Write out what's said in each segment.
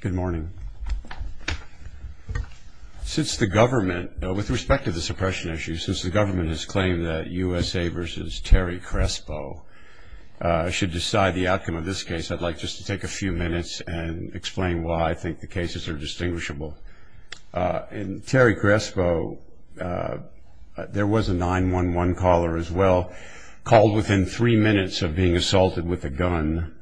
Good morning. Since the government, with respect to the suppression issue, since the government has claimed that USA v. Terry Crespo should decide the outcome of this case, I'd like just to take a few minutes and explain why I think the cases are distinguishable. In Terry Crespo, there was a 911 caller as well, called within three minutes of being assaulted with a gun,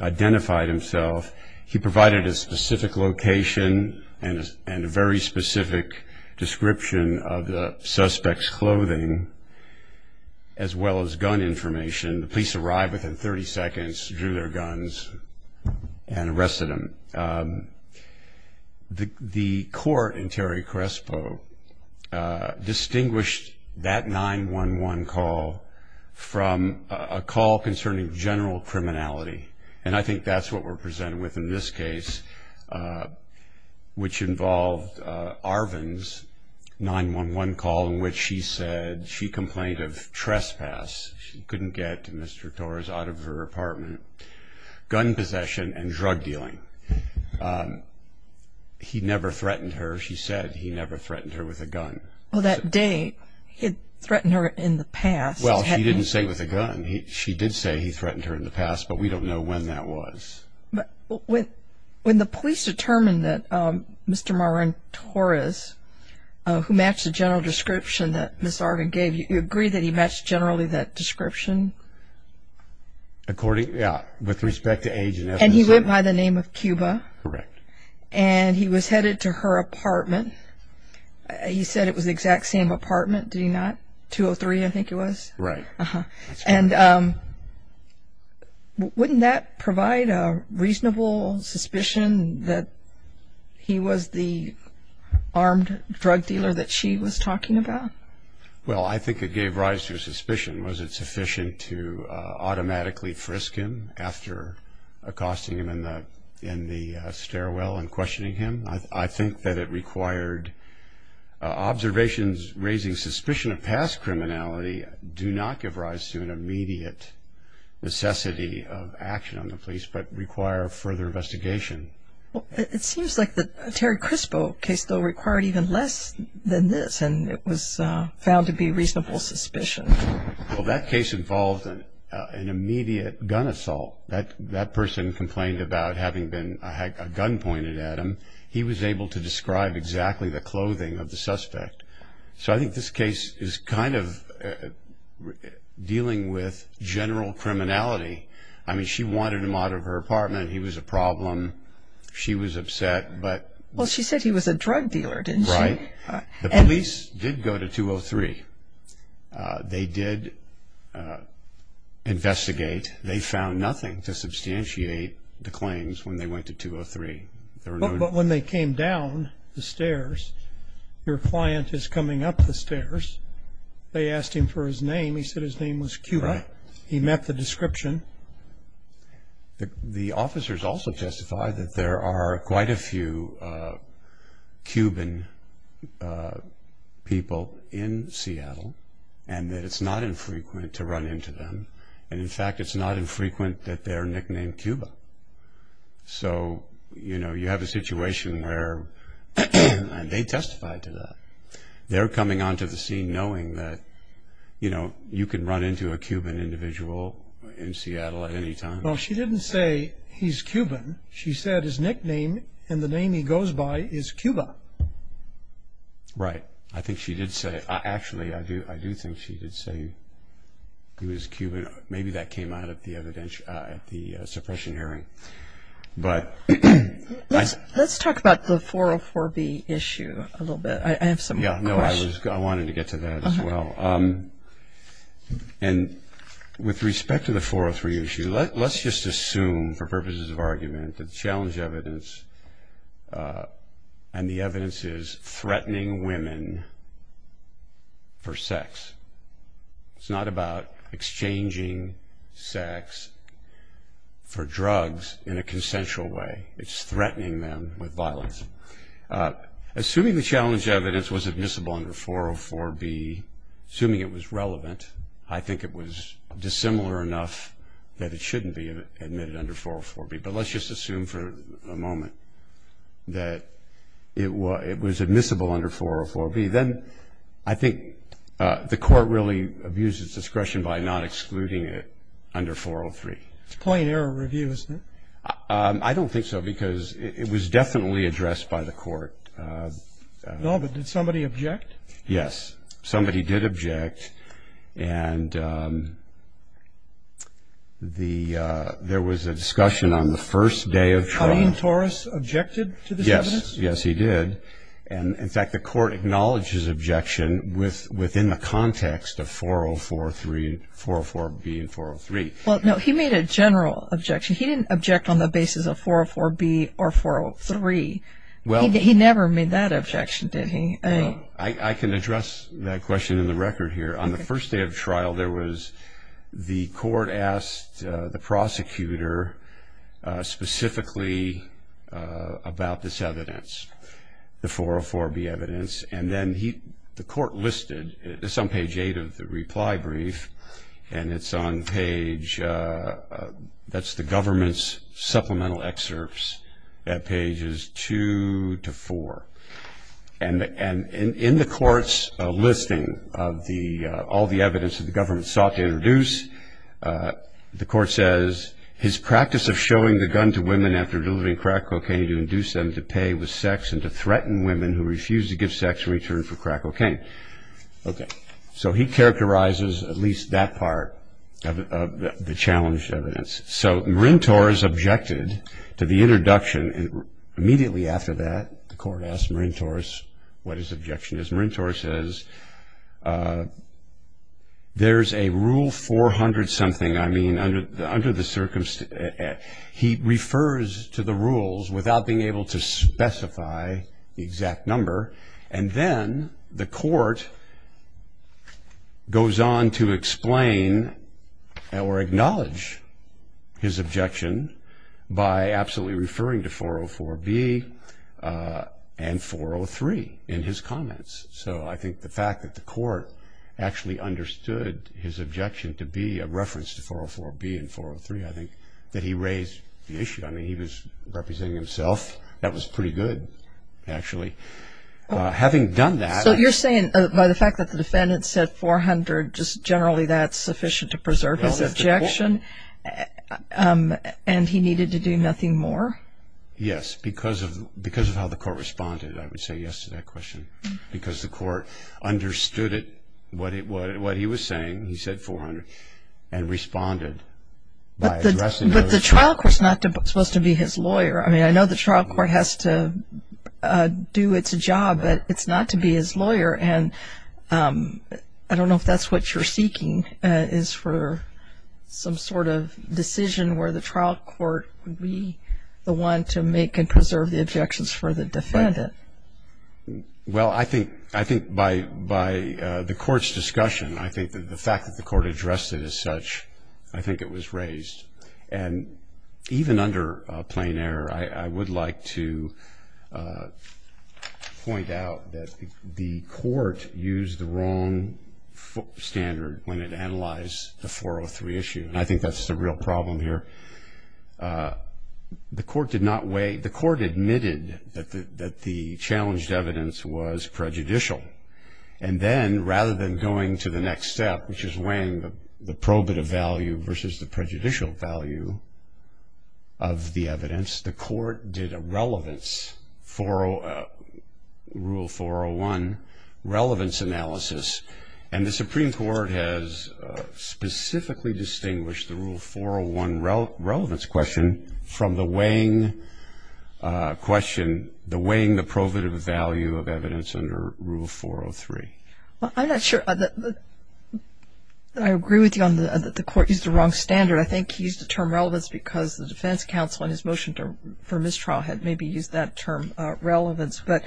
identified himself. He provided a specific location and a very specific description of the suspect's clothing, as well as gun information. The police arrived within 30 seconds, drew their guns, and arrested him. The court in Terry Crespo distinguished that 911 call from a call concerning general criminality, and I think that's what we're presented with in this case, which involved Arvin's 911 call in which she said she complained of trespass. She couldn't get Mr. Torres out of her apartment. Gun possession and drug dealing. He never threatened her. She said he never threatened her with a gun. Well, that day, he had threatened her in the past. Well, she didn't say with a gun. She did say he threatened her in the past, but we don't know when that was. When the police determined that Mr. Moran Torres, who matched the general description that Ms. Arvin gave you, you agree that he matched generally that description? Yeah, with respect to age and ethnicity. And he went by the name of Cuba? Correct. And he was headed to her apartment. He said it was the exact same apartment, did he not? 203, I think it was? Right. And wouldn't that provide a reasonable suspicion that he was the armed drug dealer that she was talking about? Well, I think it gave rise to a suspicion. Was it sufficient to automatically frisk him after accosting him in the stairwell and questioning him? I think that it required observations raising suspicion of past criminality do not give rise to an immediate necessity of action on the police, but require further investigation. It seems like the Terry Crispo case, though, required even less than this, and it was found to be reasonable suspicion. Well, that case involved an immediate gun assault. That person complained about having a gun pointed at him. He was able to describe exactly the clothing of the suspect. So I think this case is kind of dealing with general criminality. I mean, she wanted him out of her apartment. He was a problem. She was upset. Well, she said he was a drug dealer, didn't she? Right. The police did go to 203. They did investigate. They found nothing to substantiate the claims when they went to 203. But when they came down the stairs, your client is coming up the stairs. They asked him for his name. He said his name was Cuba. He met the description. The officers also testified that there are quite a few Cuban people in Seattle and that it's not infrequent to run into them. And, in fact, it's not infrequent that they're nicknamed Cuba. So, you know, you have a situation where they testified to that. They're coming onto the scene knowing that, you know, you can run into a Cuban individual in Seattle at any time. Well, she didn't say he's Cuban. She said his nickname and the name he goes by is Cuba. Right. I think she did say it. Actually, I do think she did say he was Cuban. Maybe that came out at the suppression hearing. Let's talk about the 404B issue a little bit. I have some questions. I wanted to get to that as well. And with respect to the 403 issue, let's just assume for purposes of argument that the challenge evidence and the evidence is threatening women for sex. It's not about exchanging sex for drugs in a consensual way. It's threatening them with violence. Assuming the challenge evidence was admissible under 404B, assuming it was relevant, I think it was dissimilar enough that it shouldn't be admitted under 404B. But let's just assume for a moment that it was admissible under 404B. Then I think the court really abused its discretion by not excluding it under 403. It's plain error review, isn't it? I don't think so, because it was definitely addressed by the court. No, but did somebody object? Yes, somebody did object, and there was a discussion on the first day of trial. Colleen Torres objected to this evidence? Yes, yes, he did. In fact, the court acknowledged his objection within the context of 404B and 403. Well, no, he made a general objection. He didn't object on the basis of 404B or 403. He never made that objection, did he? I can address that question in the record here. On the first day of trial, the court asked the prosecutor specifically about this evidence, the 404B evidence. And then the court listed, this is on page 8 of the reply brief, and it's on page, that's the government's supplemental excerpts at pages 2 to 4. And in the court's listing of all the evidence that the government sought to introduce, the court says, his practice of showing the gun to women after delivering crack cocaine to induce them to pay with sex and to threaten women who refused to give sex in return for crack cocaine. So he characterizes at least that part of the challenged evidence. So Marin Torres objected to the introduction, and immediately after that, the court asked Marin Torres what his objection is. And Marin Torres says, there's a rule 400-something, I mean, under the circumstance. He refers to the rules without being able to specify the exact number. And then the court goes on to explain or acknowledge his objection by absolutely referring to 404B and 403 in his comments. So I think the fact that the court actually understood his objection to be a reference to 404B and 403, I think that he raised the issue. I mean, he was representing himself. That was pretty good, actually. Having done that. So you're saying by the fact that the defendant said 400, just generally that's sufficient to preserve his objection? And he needed to do nothing more? Yes. Because of how the court responded, I would say yes to that question. Because the court understood what he was saying, he said 400, and responded. But the trial court's not supposed to be his lawyer. I mean, I know the trial court has to do its job, but it's not to be his lawyer. And I don't know if that's what you're seeking is for some sort of decision where the trial court would be the one to make and preserve the objections for the defendant. Well, I think by the court's discussion, I think that the fact that the court addressed it as such, I think it was raised. And even under plain error, I would like to point out that the court used the wrong standard when it analyzed the 403 issue. And I think that's the real problem here. The court admitted that the challenged evidence was prejudicial. And then, rather than going to the next step, which is weighing the probative value versus the prejudicial value of the evidence, the court did a relevance, Rule 401 relevance analysis. And the Supreme Court has specifically distinguished the Rule 401 relevance question from the weighing question, the weighing the probative value of evidence under Rule 403. Well, I'm not sure that I agree with you on the court used the wrong standard. I think he used the term relevance because the defense counsel in his motion for mistrial had maybe used that term relevance. But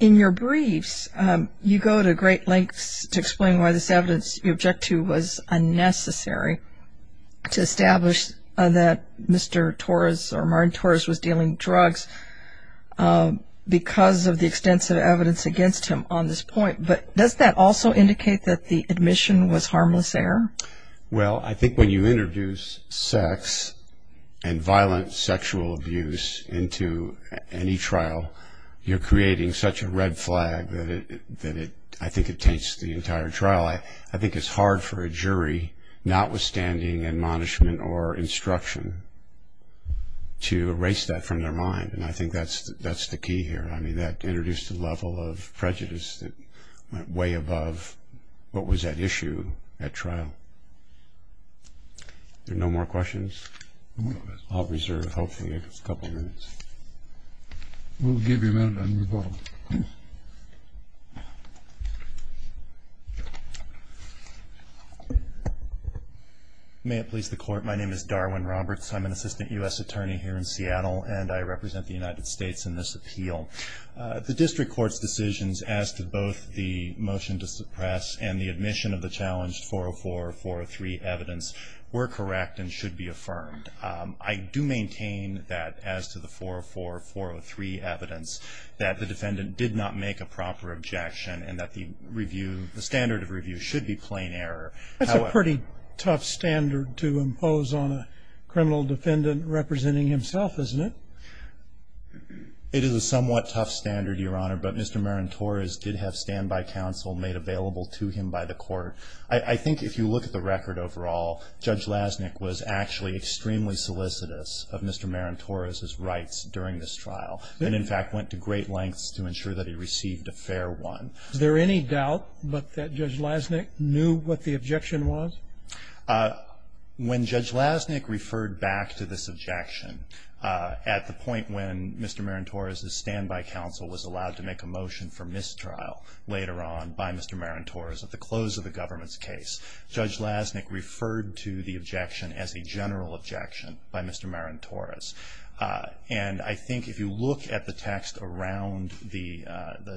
in your briefs, you go to great lengths to explain why this evidence you object to was unnecessary to establish that Mr. Torres or Martin Torres was dealing drugs because of the extensive evidence against him on this point. But does that also indicate that the admission was harmless error? Well, I think when you introduce sex and violent sexual abuse into any trial, you're creating such a red flag that I think it taints the entire trial. I think it's hard for a jury, notwithstanding admonishment or instruction, to erase that from their mind. And I think that's the key here. I mean, that introduced a level of prejudice that went way above what was at issue at trial. There are no more questions? I'll reserve, hopefully, a couple of minutes. We'll give you a minute on your phone. May it please the Court. My name is Darwin Roberts. I'm an assistant U.S. attorney here in Seattle, and I represent the United States in this appeal. The district court's decisions as to both the motion to suppress and the admission of the challenged 404 or 403 evidence were correct and should be affirmed. I do maintain that as to the 404 or 403 evidence that the defendant did not make a proper objection and that the standard of review should be plain error. That's a pretty tough standard to impose on a criminal defendant representing himself, isn't it? It is a somewhat tough standard, Your Honor, but Mr. Marin-Torres did have standby counsel made available to him by the court. I think if you look at the record overall, Judge Lasnik was actually extremely solicitous of Mr. Marin-Torres' rights during this trial and, in fact, went to great lengths to ensure that he received a fair one. Is there any doubt that Judge Lasnik knew what the objection was? When Judge Lasnik referred back to this objection at the point when Mr. Marin-Torres' standby counsel was allowed to make a motion for mistrial later on by Mr. Marin-Torres at the close of the government's case, Judge Lasnik referred to the objection as a general objection by Mr. Marin-Torres. And I think if you look at the text around the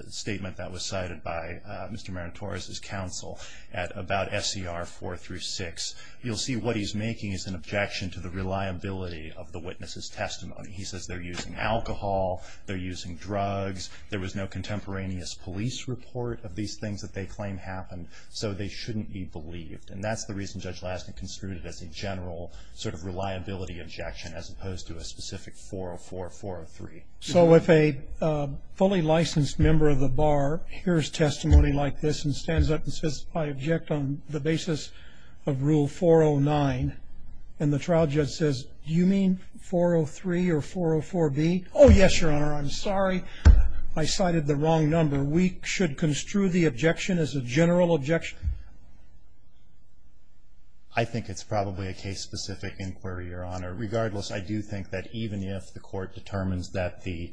statement that was cited by Mr. Marin-Torres' counsel at about SCR 4 through 6, you'll see what he's making is an objection to the reliability of the witness's testimony. He says they're using alcohol, they're using drugs, there was no contemporaneous police report of these things that they claim happened, so they shouldn't be believed. And that's the reason Judge Lasnik construed it as a general sort of reliability objection as opposed to a specific 404 or 403. So if a fully licensed member of the bar hears testimony like this and stands up and says, I object on the basis of Rule 409, and the trial judge says, do you mean 403 or 404B? Oh, yes, Your Honor, I'm sorry, I cited the wrong number. I think it's probably a case-specific inquiry, Your Honor. Regardless, I do think that even if the Court determines that the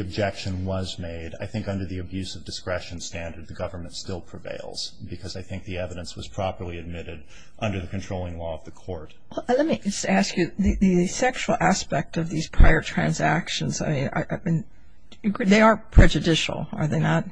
objection was made, I think under the abuse of discretion standard, the government still prevails because I think the evidence was properly admitted under the controlling law of the Court. Let me ask you, the sexual aspect of these prior transactions, I mean, they are prejudicial. Are they not?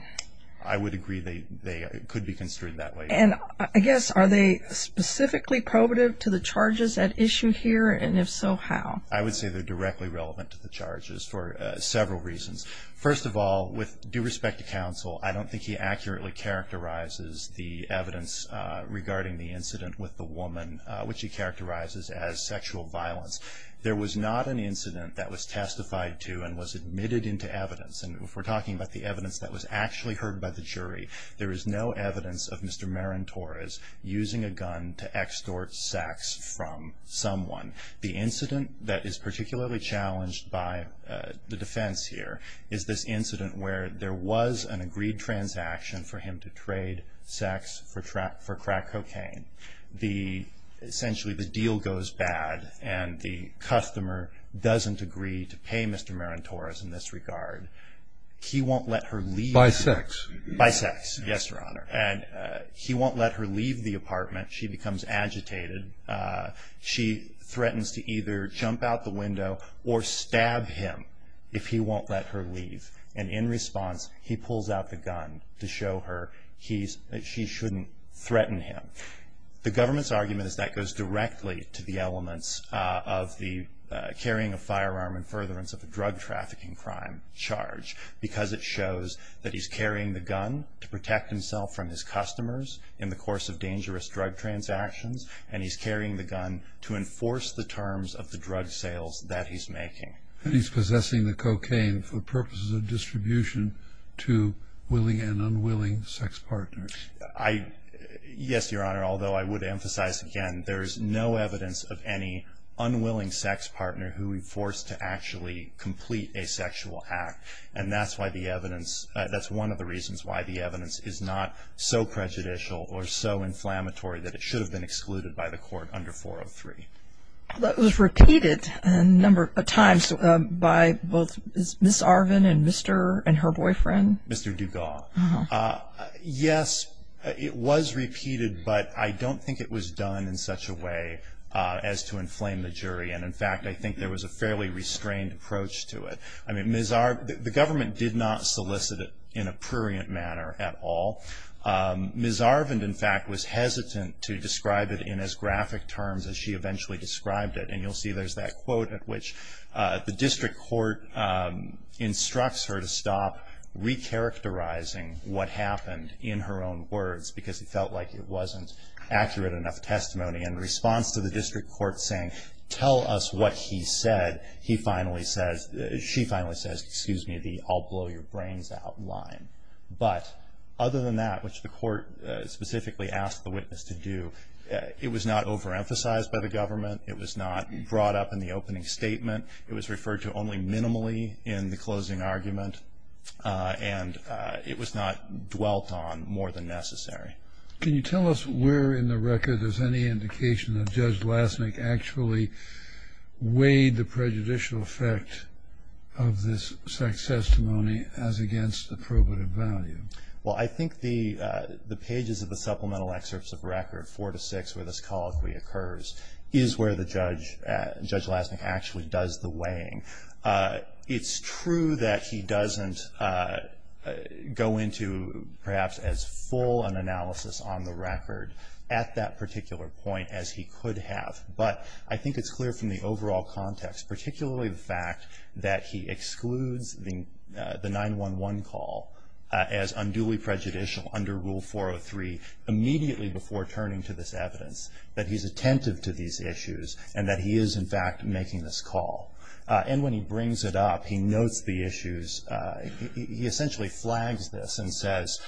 I would agree they could be construed that way. And I guess, are they specifically probative to the charges at issue here, and if so, how? I would say they're directly relevant to the charges for several reasons. First of all, with due respect to counsel, I don't think he accurately characterizes the evidence regarding the incident with the woman, which he characterizes as sexual violence. There was not an incident that was testified to and was admitted into evidence, and if we're talking about the evidence that was actually heard by the jury, there is no evidence of Mr. Marin Torres using a gun to extort sex from someone. The incident that is particularly challenged by the defense here is this incident where there was an agreed transaction for him to trade sex for crack cocaine. Essentially, the deal goes bad, and the customer doesn't agree to pay Mr. Marin Torres in this regard. He won't let her leave. By sex. By sex, yes, Your Honor. And he won't let her leave the apartment. She becomes agitated. She threatens to either jump out the window or stab him if he won't let her leave. And in response, he pulls out the gun to show her she shouldn't threaten him. The government's argument is that goes directly to the elements of the carrying a firearm in furtherance of a drug trafficking crime charge because it shows that he's carrying the gun to protect himself from his customers in the course of dangerous drug transactions, and he's carrying the gun to enforce the terms of the drug sales that he's making. And he's possessing the cocaine for purposes of distribution to willing and unwilling sex partners. Yes, Your Honor, although I would emphasize again, there is no evidence of any unwilling sex partner who would be forced to actually complete a sexual act, and that's one of the reasons why the evidence is not so prejudicial or so inflammatory that it should have been excluded by the court under 403. That was repeated a number of times by both Ms. Arvin and her boyfriend? Mr. Dugas. No. Yes, it was repeated, but I don't think it was done in such a way as to inflame the jury. And, in fact, I think there was a fairly restrained approach to it. I mean, Ms. Arvin, the government did not solicit it in a prurient manner at all. Ms. Arvin, in fact, was hesitant to describe it in as graphic terms as she eventually described it. And you'll see there's that quote at which the district court instructs her to stop recharacterizing what happened in her own words, because it felt like it wasn't accurate enough testimony. In response to the district court saying, tell us what he said, she finally says, excuse me, the I'll blow your brains out line. But other than that, which the court specifically asked the witness to do, it was not overemphasized by the government. It was not brought up in the opening statement. It was referred to only minimally in the closing argument, and it was not dwelt on more than necessary. Can you tell us where in the record there's any indication that Judge Lassnick actually weighed the prejudicial effect of this sex testimony as against the probative value? Well, I think the pages of the supplemental excerpts of record, 4 to 6, where this colloquy occurs, is where the judge, Judge Lassnick, actually does the weighing. It's true that he doesn't go into perhaps as full an analysis on the record at that particular point as he could have. But I think it's clear from the overall context, particularly the fact that he excludes the 911 call as unduly prejudicial under Rule 403 immediately before turning to this evidence, that he's attentive to these issues, and that he is, in fact, making this call. And when he brings it up, he notes the issues. He essentially flags this and says,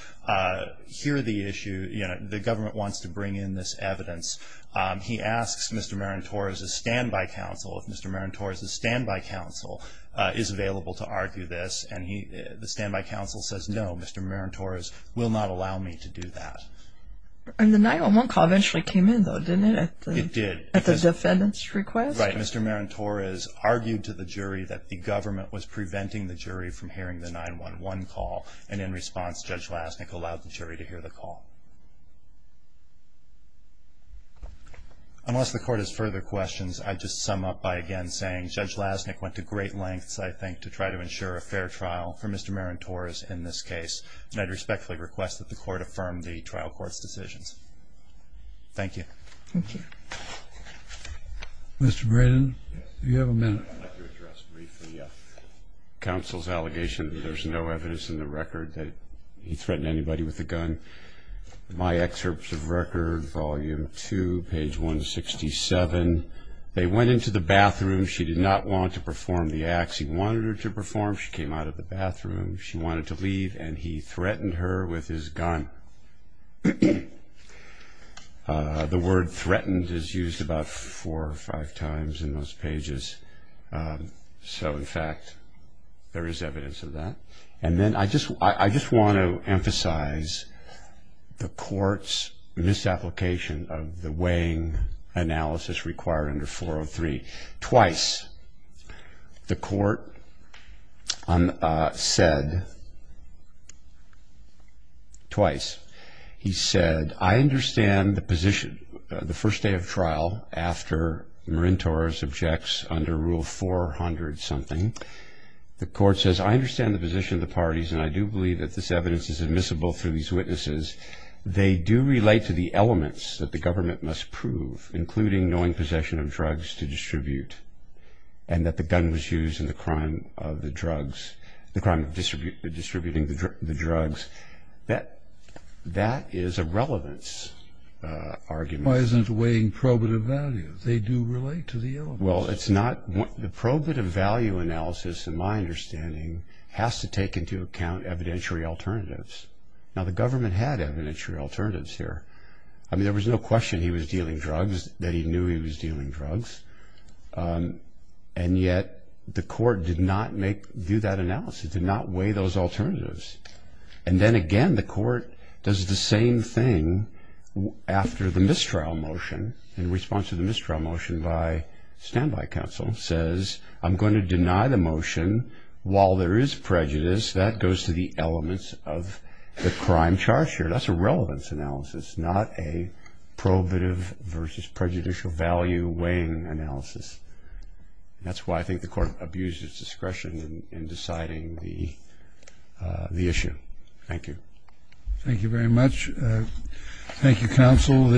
here are the issues. The government wants to bring in this evidence. He asks Mr. Marin Torres' standby counsel if Mr. Marin Torres' standby counsel is available to argue this, and the standby counsel says, no, Mr. Marin Torres will not allow me to do that. And the 911 call eventually came in, though, didn't it? It did. At the defendant's request? Right. Mr. Marin Torres argued to the jury that the government was preventing the jury from hearing the 911 call, and in response, Judge Lassnick allowed the jury to hear the call. Unless the Court has further questions, I'd just sum up by again saying Judge Lassnick went to great lengths, I think, to try to ensure a fair trial for Mr. Marin Torres in this case, and I'd respectfully request that the Court affirm the trial court's decisions. Thank you. Thank you. Mr. Braden? Yes. Do you have a minute? I'd like to address briefly counsel's allegation that there's no evidence in the record that he threatened anybody with a gun. My excerpts of record, volume 2, page 167, they went into the bathroom. She did not want to perform the acts. He wanted her to perform. She came out of the bathroom. She wanted to leave, and he threatened her with his gun. The word threatened is used about four or five times in those pages. So, in fact, there is evidence of that. And then I just want to emphasize the Court's misapplication of the weighing analysis required under 403. Twice the Court said, twice, he said, I understand the position the first day of trial after Marin Torres objects under Rule 400-something. The Court says, I understand the position of the parties, and I do believe that this evidence is admissible through these witnesses. They do relate to the elements that the government must prove, including knowing possession of drugs to distribute, and that the gun was used in the crime of distributing the drugs. That is a relevance argument. Why isn't it weighing probative value? They do relate to the elements. Well, it's not. The probative value analysis, in my understanding, has to take into account evidentiary alternatives. Now, the government had evidentiary alternatives here. I mean, there was no question he was dealing drugs, that he knew he was dealing drugs. And yet the Court did not do that analysis, did not weigh those alternatives. And then again, the Court does the same thing after the mistrial motion, in response to the mistrial motion by standby counsel, says, I'm going to deny the motion while there is prejudice. That goes to the elements of the crime charge here. That's a relevance analysis, not a probative versus prejudicial value weighing analysis. That's why I think the Court abuses discretion in deciding the issue. Thank you. Thank you very much. Thank you, counsel.